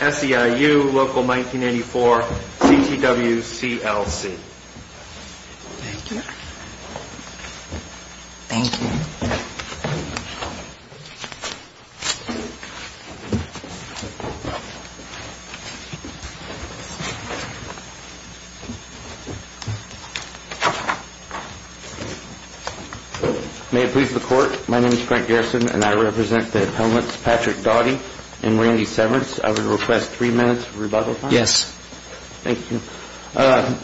SEIU local 1984 CTW CLC. Thank you. Thank you. May it please the court, my name is Frank Garrison and I represent the appellants Patrick Doughty and Randy Severance. I would request three minutes of rebuttal time. Yes. Thank you.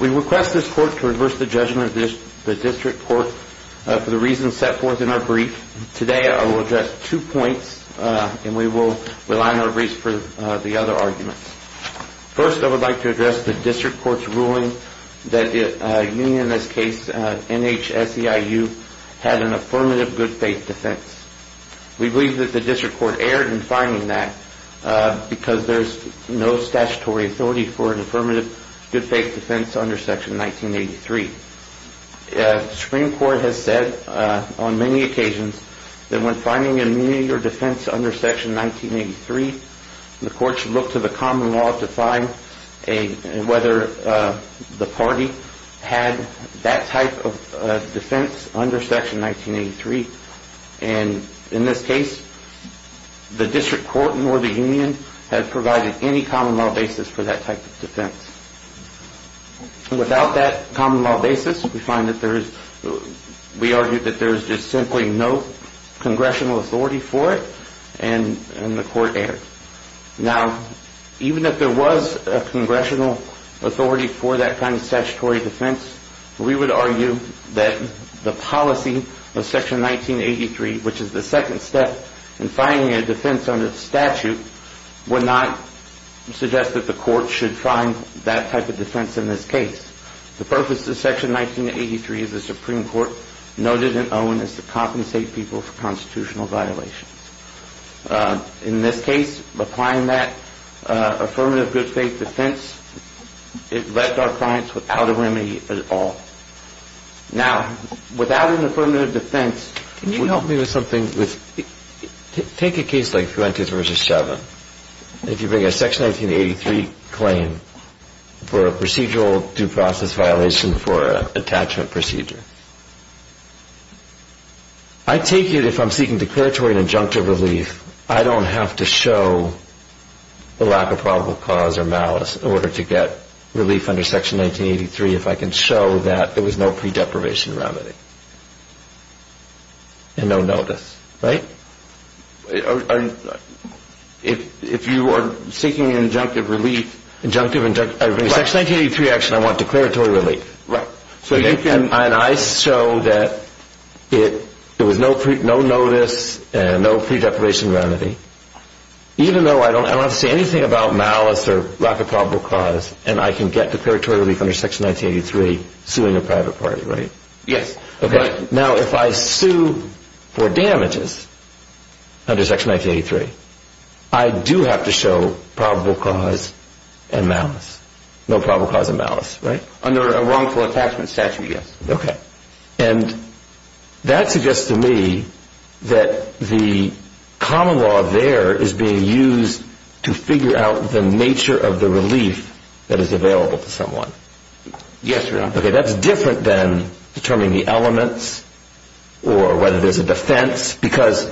We request this court to reverse the judgment of the district court for the reasons set forth in our brief. Today I will address two points and we will rely on our briefs for the other arguments. First I would like to address the district court's ruling that union in this case, NH SEIU, had an affirmative good faith defense. We believe that the district court erred in finding that because there is no statutory authority for an affirmative good faith defense under section 1983. The Supreme Court has said on many occasions that when finding immunity or defense under section 1983, the court should look to the common law to find whether the party had that type of defense under section 1983. And in this case, the district court nor the union had provided any common law basis for that type of defense. Without that common law basis, we find that there is, we argue that there is just simply no congressional authority for it and the court erred. Now, even if there was a congressional authority for that kind of statutory defense, we would argue that the policy of section 1983, which is the second step in finding a defense under statute, would not suggest that the court should find that type of defense in this case. The purpose of section 1983, as the Supreme Court noted in Owen, is to compensate people for constitutional violations. In this case, applying that affirmative good faith defense, it left our clients without a remedy at all. Now, without an affirmative defense, can you help me with something? Take a case like Fuentes v. Chauvin. If you bring a section 1983 claim for a procedural due process violation for an attachment procedure, I take it if I'm seeking declaratory and injunctive relief, I don't have to show the lack of probable cause or malice in order to get relief under section 1983. If I can show that there was no pre-deprivation remedy and no notice, right? If you are seeking injunctive relief... Injunctive, injunctive... Section 1983 action, I want declaratory relief. Right. And I show that there was no notice and no pre-deprivation remedy, even though I don't have to say anything about malice or lack of probable cause, and I can get declaratory relief under section 1983, suing a private party, right? Yes. Now, if I sue for damages under section 1983, I do have to show probable cause and malice. No probable cause and malice, right? Under a wrongful attachment statute, yes. Okay. And that suggests to me that the common law there is being used to figure out the nature of the relief that is available to someone. Yes, Your Honor. Okay, that's different than determining the elements or whether there's a defense, because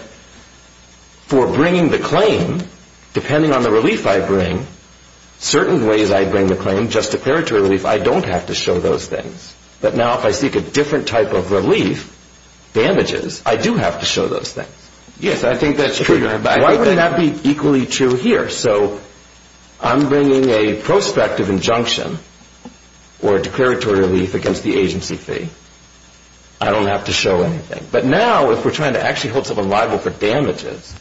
for bringing the claim, depending on the relief I bring, certain ways I bring the claim, just declaratory relief, I don't have to show those things. But now if I seek a different type of relief, damages, I do have to show those things. Yes, I think that's true, Your Honor. Why would that be equally true here? So I'm bringing a prospective injunction or a declaratory relief against the agency fee. I don't have to show anything. But now if we're trying to actually hold someone liable for damages,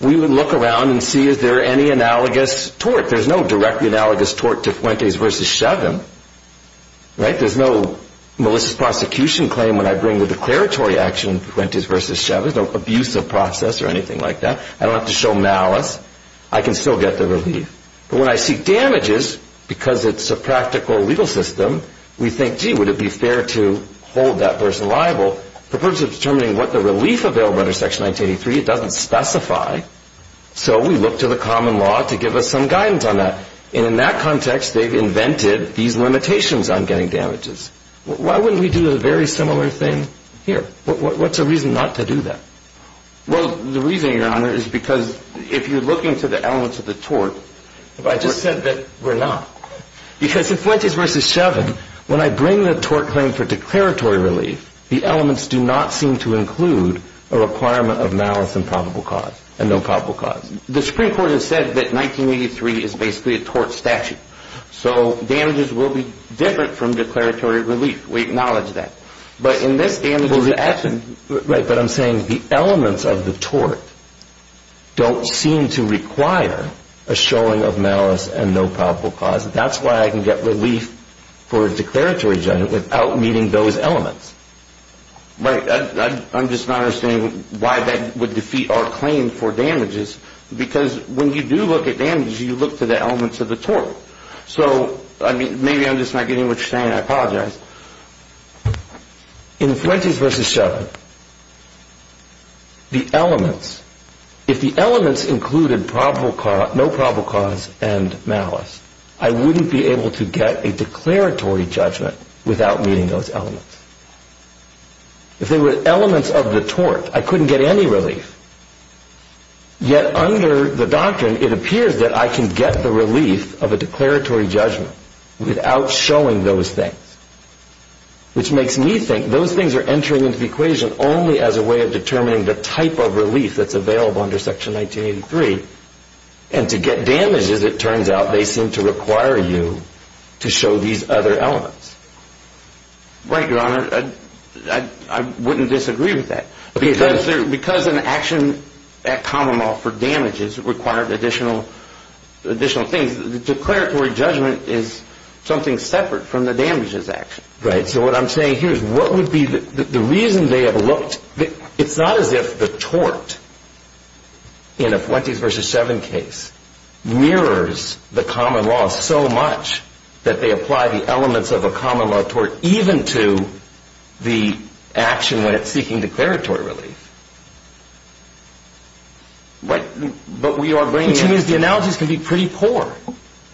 we would look around and see is there any analogous tort. There's no directly analogous tort to Fuentes v. Shevin, right? There's no malicious prosecution claim when I bring the declaratory action to Fuentes v. Shevin. There's no abuse of process or anything like that. I don't have to show malice. I can still get the relief. But when I seek damages, because it's a practical legal system, we think, gee, would it be fair to hold that person liable? The purpose of determining what the relief available under Section 1983, it doesn't specify. So we look to the common law to give us some guidance on that. And in that context, they've invented these limitations on getting damages. Why wouldn't we do a very similar thing here? What's the reason not to do that? Well, the reason, Your Honor, is because if you're looking to the elements of the tort... I just said that we're not. Because in Fuentes v. Shevin, when I bring the tort claim for declaratory relief, the elements do not seem to include a requirement of malice and probable cause, and no probable cause. The Supreme Court has said that 1983 is basically a tort statute. So damages will be different from declaratory relief. We acknowledge that. But in this case... Right, but I'm saying the elements of the tort don't seem to require a showing of malice and no probable cause. That's why I can get relief for a declaratory judgment without meeting those elements. Right. I'm just not understanding why that would defeat our claim for damages. Because when you do look at damages, you look to the elements of the tort. So, maybe I'm just not getting what you're saying, and I apologize. In Fuentes v. Shevin, the elements... If the elements included no probable cause and malice, I wouldn't be able to get a declaratory judgment without meeting those elements. If they were elements of the tort, I couldn't get any relief. Yet under the doctrine, it appears that I can get the relief of a declaratory judgment without showing those things. Which makes me think those things are entering into the equation only as a way of determining the type of relief that's available under Section 1983. And to get damages, it turns out, they seem to require you to show these other elements. Right, Your Honor. I wouldn't disagree with that. Because an action at common law for damages required additional things, the declaratory judgment is something separate from the damages action. Right. So what I'm saying here is what would be the reason they have looked... It's not as if the tort in a Fuentes v. Shevin case mirrors the common law so much that they apply the elements of a common law tort even to the action when it's seeking declaratory relief. But we are bringing in... Which means the analogies can be pretty poor.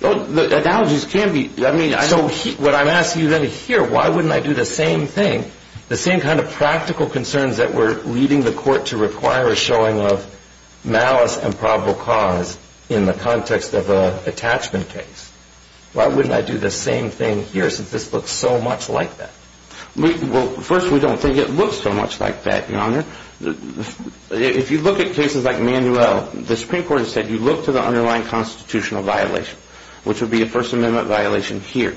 The analogies can be... So what I'm asking you here, why wouldn't I do the same thing, the same kind of practical concerns that were leading the court to require a showing of malice and probable cause in the context of an attachment case? Why wouldn't I do the same thing here since this looks so much like that? Well, first, we don't think it looks so much like that, Your Honor. If you look at cases like Manuel, the Supreme Court has said you look to the underlying constitutional violation, which would be a First Amendment violation here.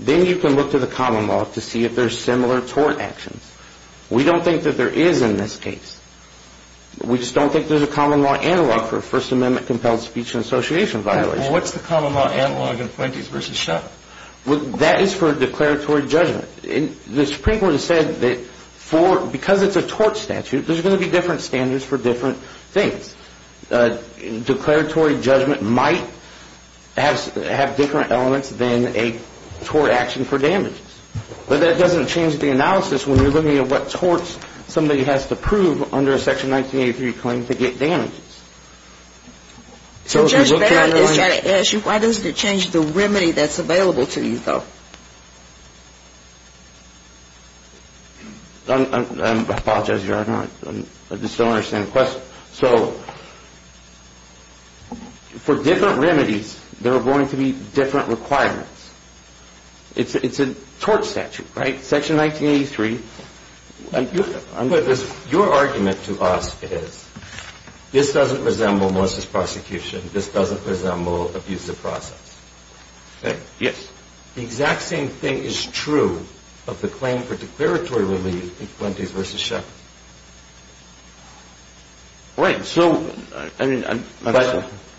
Then you can look to the common law to see if there's similar tort actions. We don't think that there is in this case. We just don't think there's a common law analog for a First Amendment compelled speech and association violation. Well, what's the common law analog in Flinties v. Shuttle? Well, that is for declaratory judgment. The Supreme Court has said that because it's a tort statute, there's going to be different standards for different things. Declaratory judgment might have different elements than a tort action for damages. But that doesn't change the analysis when you're looking at what torts somebody has to prove under a Section 1983 claim to get damages. So Judge Barrett is trying to ask you, why doesn't it change the remedy that's available to you, though? I apologize, Your Honor. I just don't understand the question. So for different remedies, there are going to be different requirements. It's a tort statute, right, Section 1983. Your argument to us is this doesn't resemble Melissa's prosecution. This doesn't resemble abusive process. Yes. The exact same thing is true of the claim for declaratory relief in Flinties v. Shuttle. Right. So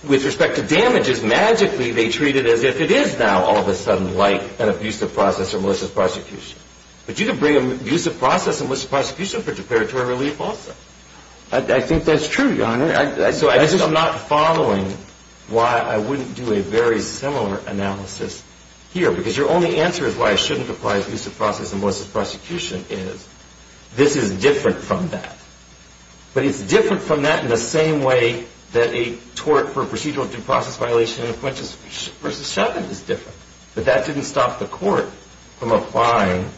with respect to damages, magically they treat it as if it is now all of a sudden like an abusive process or Melissa's prosecution. But you could bring abusive process and Melissa's prosecution for declaratory relief also. I think that's true, Your Honor. I'm not following why I wouldn't do a very similar analysis here, because your only answer is why I shouldn't apply abusive process and Melissa's prosecution is this is different from that. But it's different from that in the same way that a tort for procedural due process violation in Flinties v. Shuttle is different. But that didn't stop the court from applying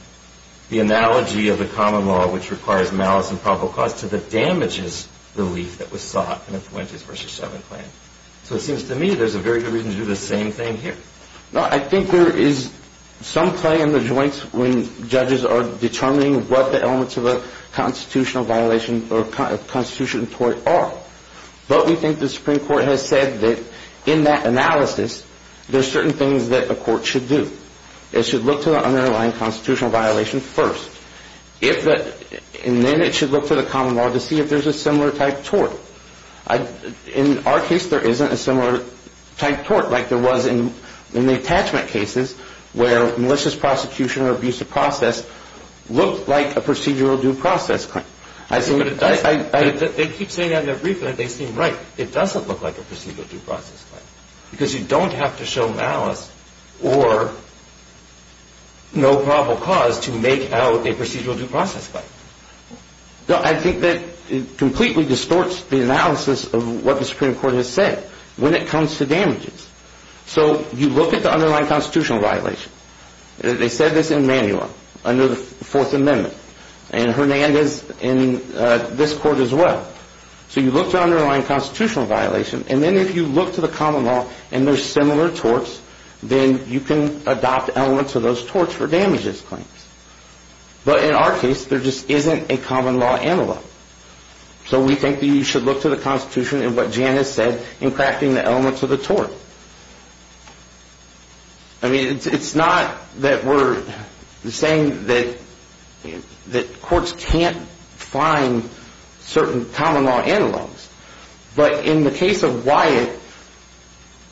the analogy of the common law, which requires malice and probable cause, to the damages relief that was sought in the Flinties v. Shuttle claim. So it seems to me there's a very good reason to do the same thing here. No, I think there is some play in the joints when judges are determining what the elements of a constitutional violation or constitutional tort are. But we think the Supreme Court has said that in that analysis, there's certain things that a court should do. It should look to the underlying constitutional violation first. And then it should look to the common law to see if there's a similar type tort. In our case, there isn't a similar type tort like there was in the attachment cases where Melissa's prosecution or abusive process looked like a procedural due process claim. They keep saying that in their brief, and they seem right. It doesn't look like a procedural due process claim because you don't have to show malice or no probable cause to make out a procedural due process claim. No, I think that it completely distorts the analysis of what the Supreme Court has said when it comes to damages. So you look at the underlying constitutional violation. They said this in manual under the Fourth Amendment. And Hernandez in this court as well. So you look to the underlying constitutional violation, and then if you look to the common law and there's similar torts, then you can adopt elements of those torts for damages claims. But in our case, there just isn't a common law analog. So we think that you should look to the Constitution and what Jan has said in crafting the elements of the tort. I mean, it's not that we're saying that courts can't find certain common law analogs. But in the case of Wyatt,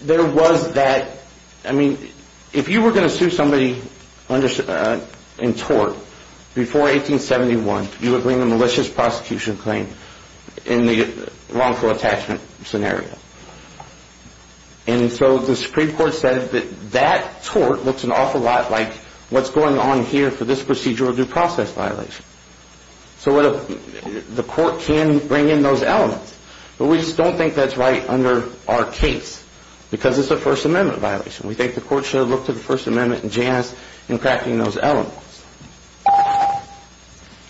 there was that, I mean, if you were going to sue somebody in tort before 1871, you would bring a malicious prosecution claim in the wrongful attachment scenario. And so the Supreme Court said that that tort looks an awful lot like what's going on here for this procedural due process violation. So the court can bring in those elements. But we just don't think that's right under our case because it's a First Amendment violation. We think the court should look to the First Amendment and Jan has in crafting those elements.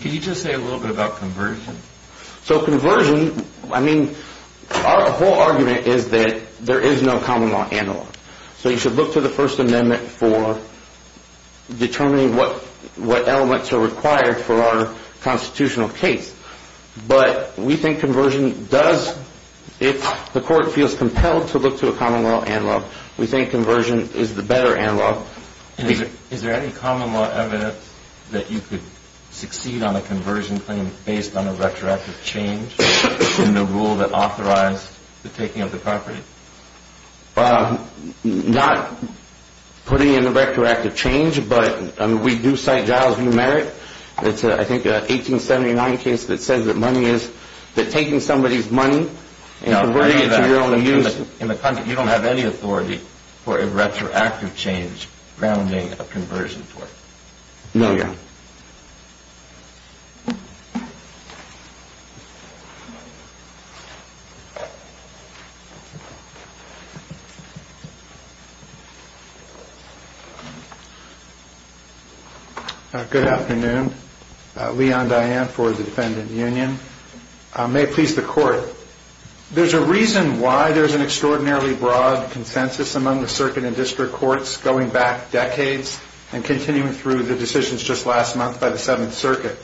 Can you just say a little bit about conversion? So conversion, I mean, our whole argument is that there is no common law analog. So you should look to the First Amendment for determining what elements are required for our constitutional case. But we think conversion does, if the court feels compelled to look to a common law analog, we think conversion is the better analog. Is there any common law evidence that you could succeed on a conversion claim based on a retroactive change in the rule that authorized the taking of the property? Not putting in a retroactive change, but we do cite Giles v. Merritt. It's, I think, an 1879 case that says that money is, that taking somebody's money and converting it to your own use. You don't have any authority for a retroactive change grounding a conversion for it. No, Your Honor. Good afternoon. Leon Diane for the Defendant Union. May it please the court. There's a reason why there's an extraordinarily broad consensus among the circuit and district courts going back decades and continuing through the decisions just last month by the Seventh Circuit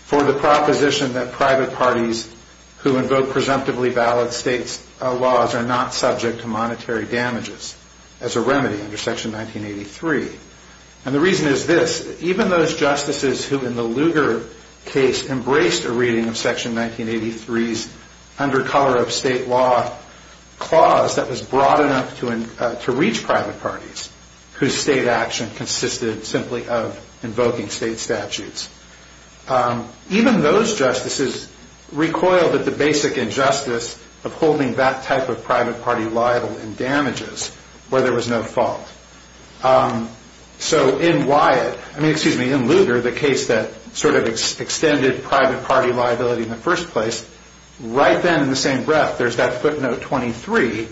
for the proposition that private parties who invoke presumptively valid state laws are not subject to monetary damages as a remedy under Section 1983. And the reason is this. Even those justices who, in the Lugar case, embraced a reading of Section 1983's under-color-of-state-law clause that was broad enough to reach private parties whose state action consisted simply of invoking state statutes. Even those justices recoiled at the basic injustice of holding that type of private party liable in damages where there was no fault. So in Lugar, the case that sort of extended private party liability in the first place, right then in the same breath, there's that footnote 23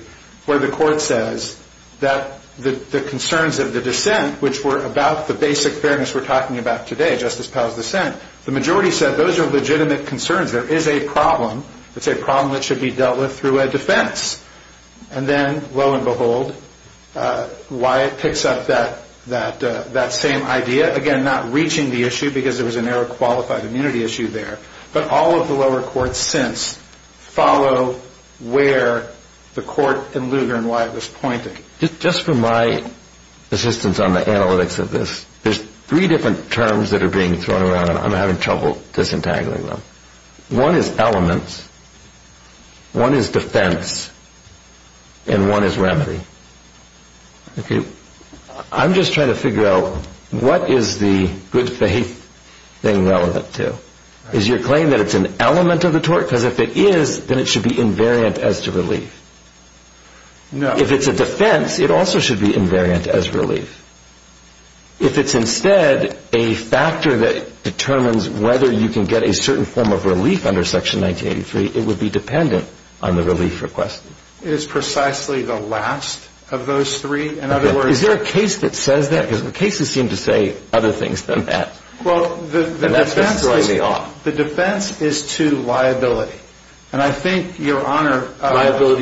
where the court says that the concerns of the dissent, which were about the basic fairness we're talking about today, Justice Powell's dissent, the majority said those are legitimate concerns. There is a problem. It's a problem that should be dealt with through a defense. And then, lo and behold, Wyatt picks up that same idea, again, not reaching the issue because there was an error of qualified immunity issue there, but all of the lower courts since follow where the court in Lugar and Wyatt was pointing. Just for my assistance on the analytics of this, there's three different terms that are being thrown around, and I'm having trouble disentangling them. One is elements, one is defense, and one is remedy. I'm just trying to figure out what is the good faith thing relevant to? Is your claim that it's an element of the tort? Because if it is, then it should be invariant as to relief. If it's a defense, it also should be invariant as relief. If it's instead a factor that determines whether you can get a certain form of relief under Section 1983, it would be dependent on the relief requested. It is precisely the last of those three. Is there a case that says that? Because the cases seem to say other things than that. Well, the defense is to liability. Liability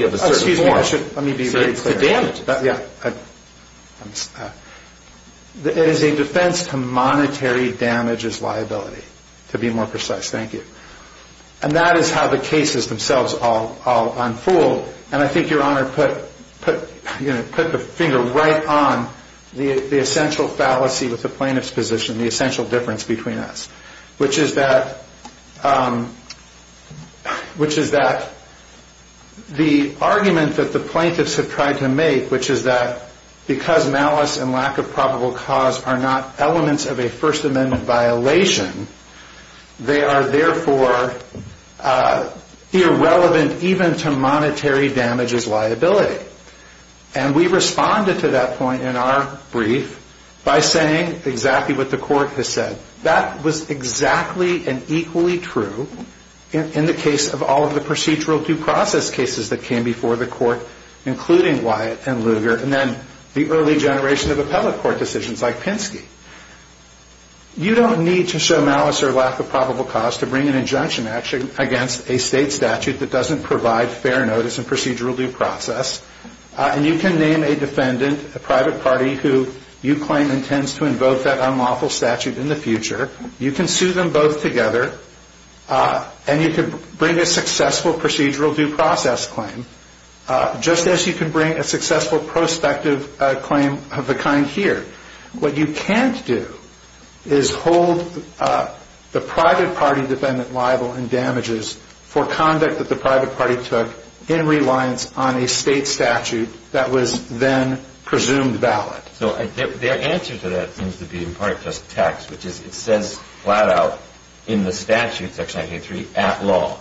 of a certain form. Excuse me, let me be very clear. To damages. It is a defense to monetary damages liability, to be more precise. Thank you. And that is how the cases themselves all unfold, and I think Your Honor put the finger right on the essential fallacy with the plaintiff's position, the essential difference between us, which is that the argument that the plaintiffs have tried to make, which is that because malice and lack of probable cause are not elements of a First Amendment violation, they are therefore irrelevant even to monetary damages liability. And we responded to that point in our brief by saying exactly what the court has said. That was exactly and equally true in the case of all of the procedural due process cases that came before the court, including Wyatt and Lugar and then the early generation of appellate court decisions like Pinsky. You don't need to show malice or lack of probable cause to bring an injunction against a state statute that doesn't provide fair notice and procedural due process, and you can name a defendant, a private party, who you claim intends to invoke that unlawful statute in the future. You can sue them both together, and you can bring a successful procedural due process claim, just as you can bring a successful prospective claim of the kind here. What you can't do is hold the private party defendant liable in damages for conduct that the private party took in reliance on a state statute that was then presumed valid. So their answer to that seems to be in part just text, which is it says flat out in the statute, Section 983, at law,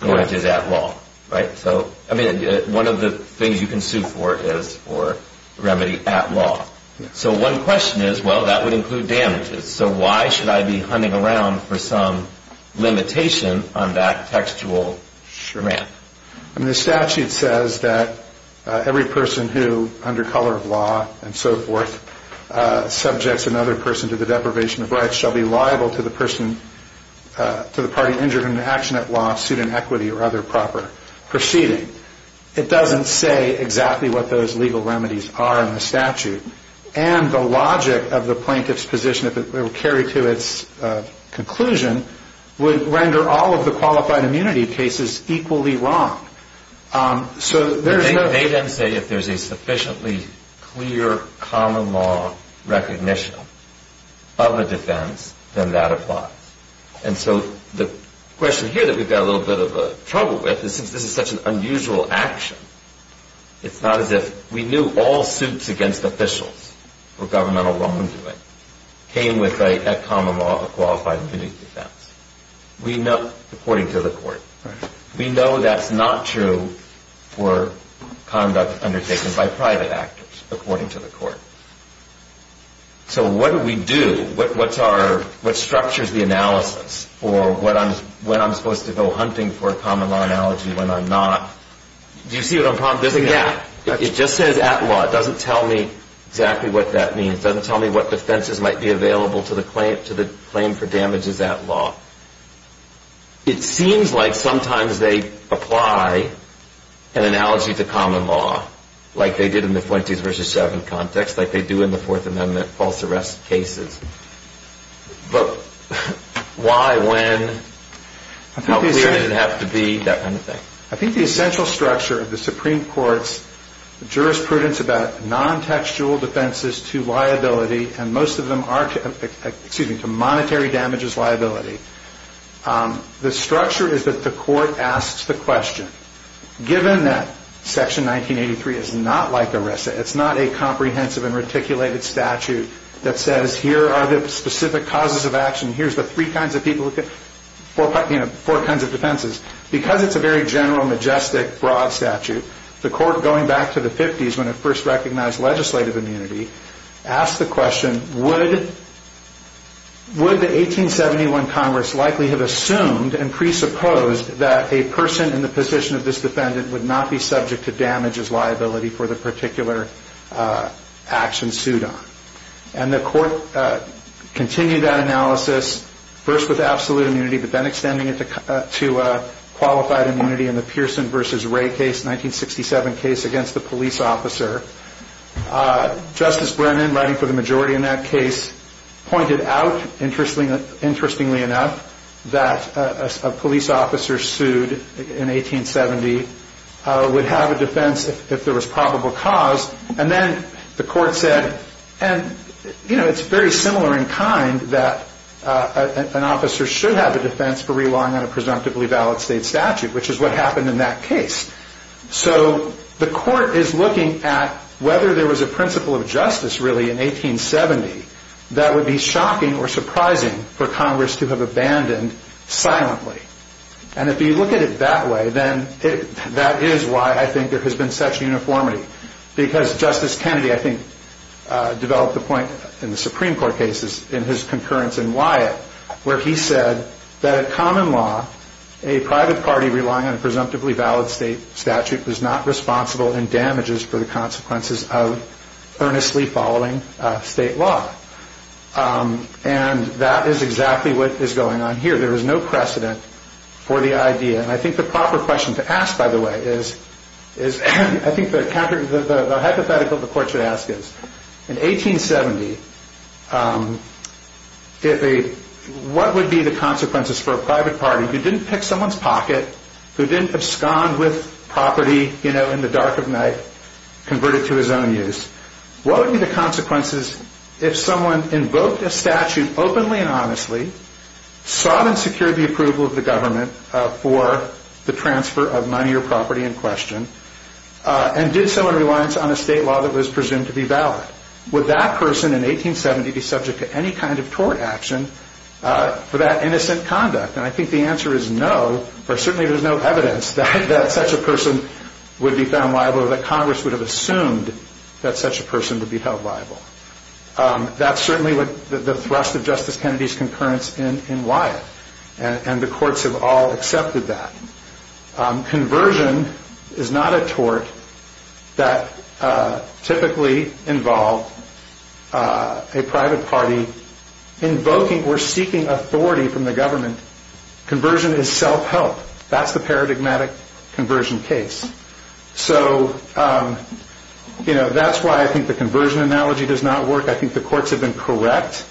damages at law, right? So, I mean, one of the things you can sue for is for remedy at law. So one question is, well, that would include damages. So why should I be hunting around for some limitation on that textual shramp? I mean, the statute says that every person who, under color of law and so forth, subjects another person to the deprivation of rights shall be liable to the person, to the party injured in an action at law, suit in equity or other proper proceeding. It doesn't say exactly what those legal remedies are in the statute, and the logic of the plaintiff's position, if it were carried to its conclusion, would render all of the qualified immunity cases equally wrong. So there's no – They then say if there's a sufficiently clear common law recognition of a defense, then that applies. And so the question here that we've got a little bit of trouble with is since this is such an unusual action, it's not as if we knew all suits against officials were governmental wrongdoing, came with a common law of qualified immunity defense, according to the court. We know that's not true for conduct undertaken by private actors, according to the court. So what do we do? What structures the analysis for when I'm supposed to go hunting for a common law analogy, when I'm not? Do you see what I'm – Yeah. It just says at law. It doesn't tell me exactly what that means. It doesn't tell me what defenses might be available to the claim for damages at law. It seems like sometimes they apply an analogy to common law, like they did in the 20th v. 7 context, like they do in the Fourth Amendment false arrest cases. But why, when, how clear does it have to be, that kind of thing? I think the essential structure of the Supreme Court's jurisprudence about nontextual defenses to liability, and most of them are to – excuse me – to monetary damages liability, the structure is that the court asks the question, given that Section 1983 is not like ERISA, it's not a comprehensive and reticulated statute that says here are the specific causes of action, here's the three kinds of people who – you know, four kinds of defenses. Because it's a very general, majestic, broad statute, the court, going back to the 50s when it first recognized legislative immunity, asked the question, would the 1871 Congress likely have assumed and presupposed that a person in the position of this defendant would not be subject to damages liability for the particular action sued on? And the court continued that analysis, first with absolute immunity, but then extending it to qualified immunity in the Pearson v. Ray case, 1967 case against the police officer. Justice Brennan, writing for the majority in that case, pointed out, interestingly enough, that a police officer sued in 1870 would have a defense if there was probable cause. And then the court said, you know, it's very similar in kind that an officer should have a defense for relying on a presumptively valid state statute, which is what happened in that case. So the court is looking at whether there was a principle of justice, really, in 1870 that would be shocking or surprising for Congress to have abandoned silently. And if you look at it that way, then that is why I think there has been such uniformity. Because Justice Kennedy, I think, developed the point in the Supreme Court cases, in his concurrence in Wyatt, where he said that a common law, a private party relying on a presumptively valid state statute, was not responsible in damages for the consequences of earnestly following state law. And that is exactly what is going on here. There is no precedent for the idea. And I think the proper question to ask, by the way, is, I think the hypothetical the court should ask is, in 1870, what would be the consequences for a private party who didn't pick someone's pocket, who didn't abscond with property, you know, in the dark of night, converted to his own use? What would be the consequences if someone invoked a statute openly and honestly, sought and secured the approval of the government for the transfer of money or property in question, and did so in reliance on a state law that was presumed to be valid? Would that person in 1870 be subject to any kind of tort action for that innocent conduct? And I think the answer is no, or certainly there is no evidence that such a person would be found liable or that Congress would have assumed that such a person would be held liable. That's certainly the thrust of Justice Kennedy's concurrence in Wyatt. And the courts have all accepted that. Conversion is not a tort that typically involved a private party invoking or seeking authority from the government. Conversion is self-help. That's the paradigmatic conversion case. So, you know, that's why I think the conversion analogy does not work. I think the courts have been correct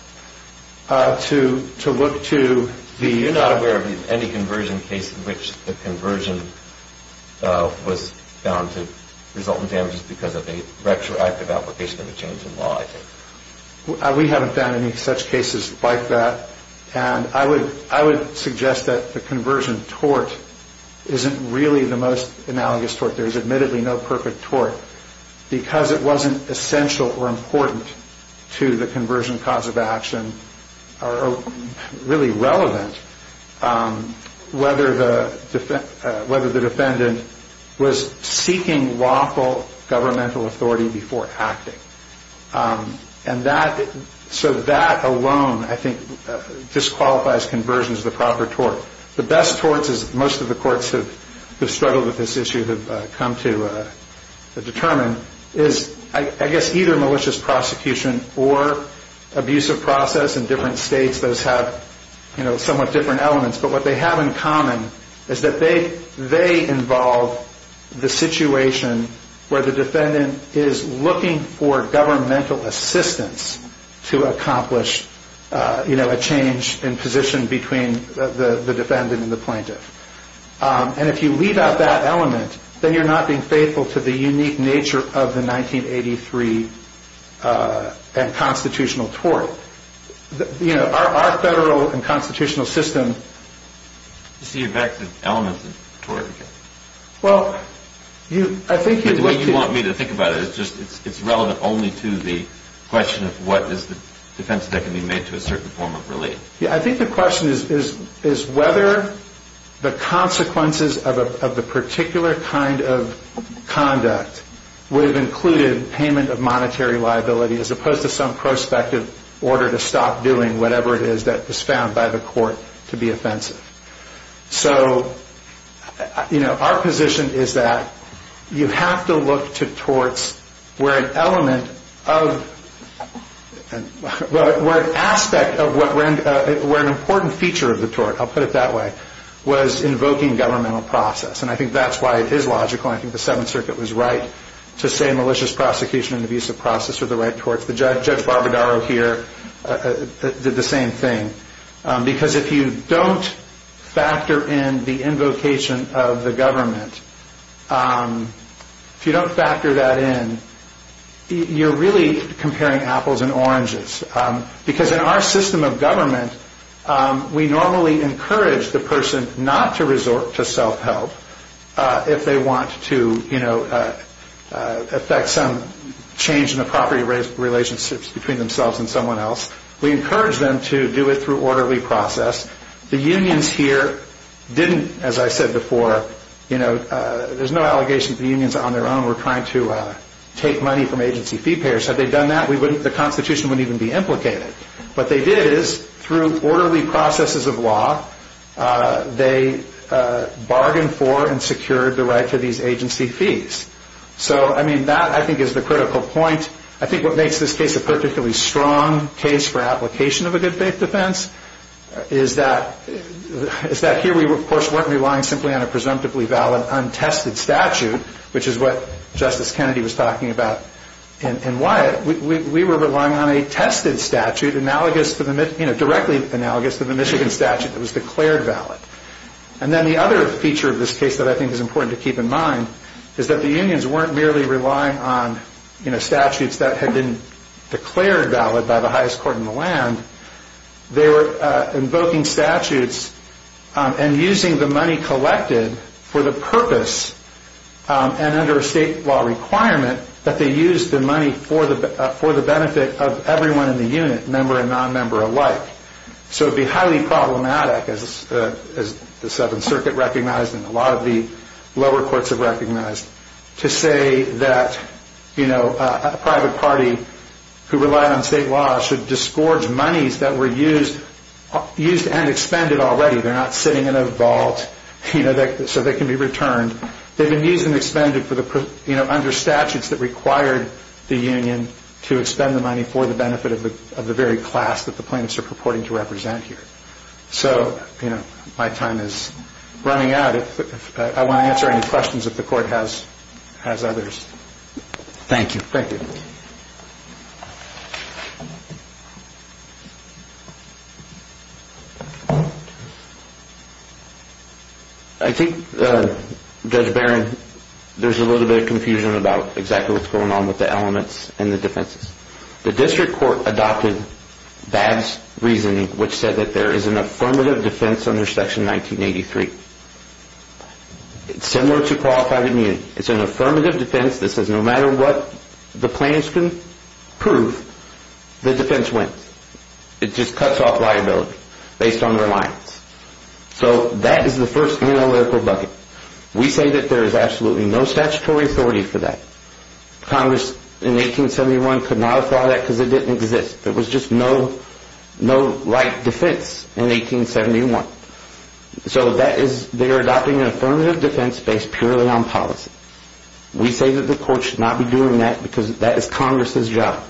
to look to the- You're not aware of any conversion case in which the conversion was found to result in damages because of a retroactive application of a change in law, I think? We haven't found any such cases like that. And I would suggest that the conversion tort isn't really the most analogous tort. There is admittedly no perfect tort because it wasn't essential or important to the conversion cause of action or really relevant whether the defendant was seeking lawful governmental authority before acting. And so that alone, I think, disqualifies conversion as the proper tort. The best torts, as most of the courts who have struggled with this issue have come to determine, is, I guess, either malicious prosecution or abusive process. In different states, those have somewhat different elements. But what they have in common is that they involve the situation where the defendant is looking for governmental assistance to accomplish a change in position between the defendant and the plaintiff. And if you leave out that element, then you're not being faithful to the unique nature of the 1983 constitutional tort. You know, our federal and constitutional system... You see, in fact, the elements of tort... Well, I think... The way you want me to think about it is just it's relevant only to the question of what is the defense that can be made to a certain form of relief. Yeah, I think the question is whether the consequences of the particular kind of conduct would have included payment of monetary liability as opposed to some prospective order to stop doing whatever it is that was found by the court to be offensive. So, you know, our position is that you have to look to torts where an element of... Where an aspect of what renders... Where an important feature of the tort, I'll put it that way, was invoking governmental process. And I think that's why it is logical. I think the Seventh Circuit was right to say malicious prosecution and abusive process are the right torts. Judge Barbadaro here did the same thing. Because if you don't factor in the invocation of the government... If you don't factor that in, you're really comparing apples and oranges. Because in our system of government, we normally encourage the person not to resort to self-help if they want to, you know, affect some change in the property relationships between themselves and someone else. We encourage them to do it through orderly process. The unions here didn't, as I said before, you know, there's no allegation that the unions on their own were trying to take money from agency fee payers. Had they done that, the Constitution wouldn't even be implicated. What they did is, through orderly processes of law, they bargained for and secured the right to these agency fees. So, I mean, that I think is the critical point. I think what makes this case a particularly strong case for application of a good faith defense is that here we, of course, weren't relying simply on a presumptively valid untested statute, which is what Justice Kennedy was talking about in Wyatt. We were relying on a tested statute analogous to the, you know, directly analogous to the Michigan statute that was declared valid. And then the other feature of this case that I think is important to keep in mind is that the unions weren't merely relying on, you know, statutes that had been declared valid by the highest court in the land. They were invoking statutes and using the money collected for the purpose and under a state law requirement that they use the money for the benefit of everyone in the unit, member and non-member alike. So it would be highly problematic, as the Seventh Circuit recognized to say that, you know, a private party who relied on state law should disgorge monies that were used and expended already. They're not sitting in a vault, you know, so they can be returned. They've been used and expended for the, you know, under statutes that required the union to expend the money for the benefit of the very class that the plaintiffs are purporting to represent here. So, you know, my time is running out. I want to answer any questions if the court has others. Thank you. Thank you. I think, Judge Barron, there's a little bit of confusion about exactly what's going on with the elements and the defenses. The district court adopted Babb's reasoning, which said that there is an affirmative defense under Section 1983. It's similar to qualified immunity. It's an affirmative defense that says no matter what the plaintiffs can prove, the defense wins. It just cuts off liability based on reliance. So that is the first analytical bucket. We say that there is absolutely no statutory authority for that. Congress in 1871 could not have thought of that because it didn't exist. There was just no right defense in 1871. So that is, they are adopting an affirmative defense based purely on policy. We say that the court should not be doing that because that is Congress's job.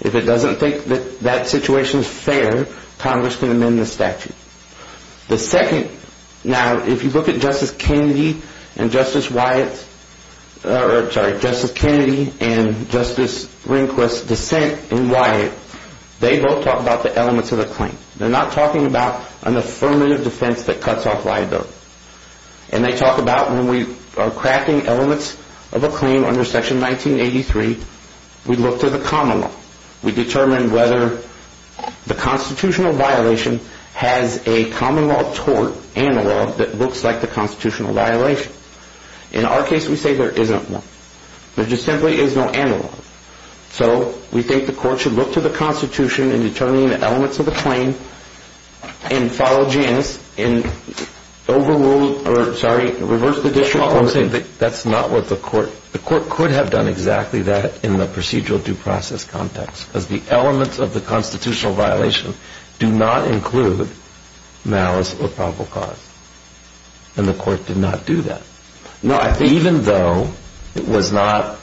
If it doesn't think that that situation is fair, Congress can amend the statute. The second, now if you look at Justice Kennedy and Justice Rehnquist's dissent in Wyatt, they both talk about the elements of the claim. They're not talking about an affirmative defense that cuts off liability. And they talk about when we are cracking elements of a claim under Section 1983, we look to the common law. We determine whether the constitutional violation has a common law tort analog that looks like the constitutional violation. In our case, we say there isn't one. There just simply is no analog. So we think the court should look to the Constitution in determining the elements of the claim and follow Janus and overrule or, sorry, reverse the district order. The court could have done exactly that in the procedural due process context because the elements of the constitutional violation do not include malice or probable cause. And the court did not do that. Even though it was not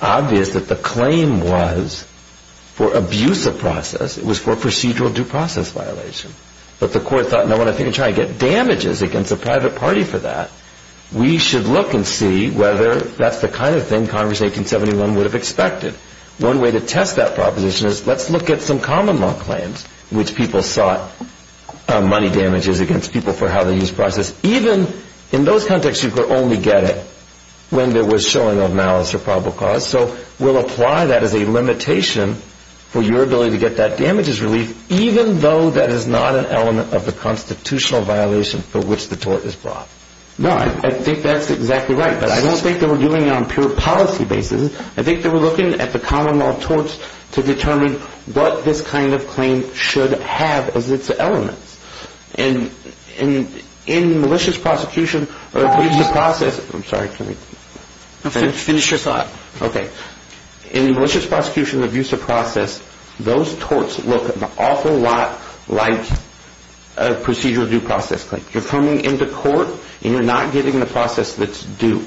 obvious that the claim was for abuse of process, it was for procedural due process violation. But the court thought, no one is going to try to get damages against a private party for that. We should look and see whether that's the kind of thing Congress in 1871 would have expected. One way to test that proposition is let's look at some common law claims in which people sought money damages against people for how they used process. Even in those contexts, you could only get it when there was showing of malice or probable cause. So we'll apply that as a limitation for your ability to get that damages relief, even though that is not an element of the constitutional violation for which the tort is brought. No, I think that's exactly right. But I don't think they were doing it on pure policy basis. I think they were looking at the common law torts to determine what this kind of claim should have as its elements. And in malicious prosecution of abuse of process, I'm sorry, can we finish? Finish your thought. Okay. In malicious prosecution of abuse of process, those torts look an awful lot like a procedural due process claim. You're coming into court and you're not getting the process that's due.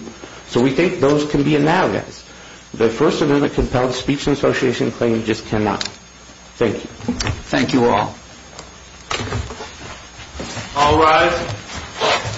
So we think those can be analogous. The First Amendment Compelled Speech Association claim just cannot. Thank you. Thank you all. All rise.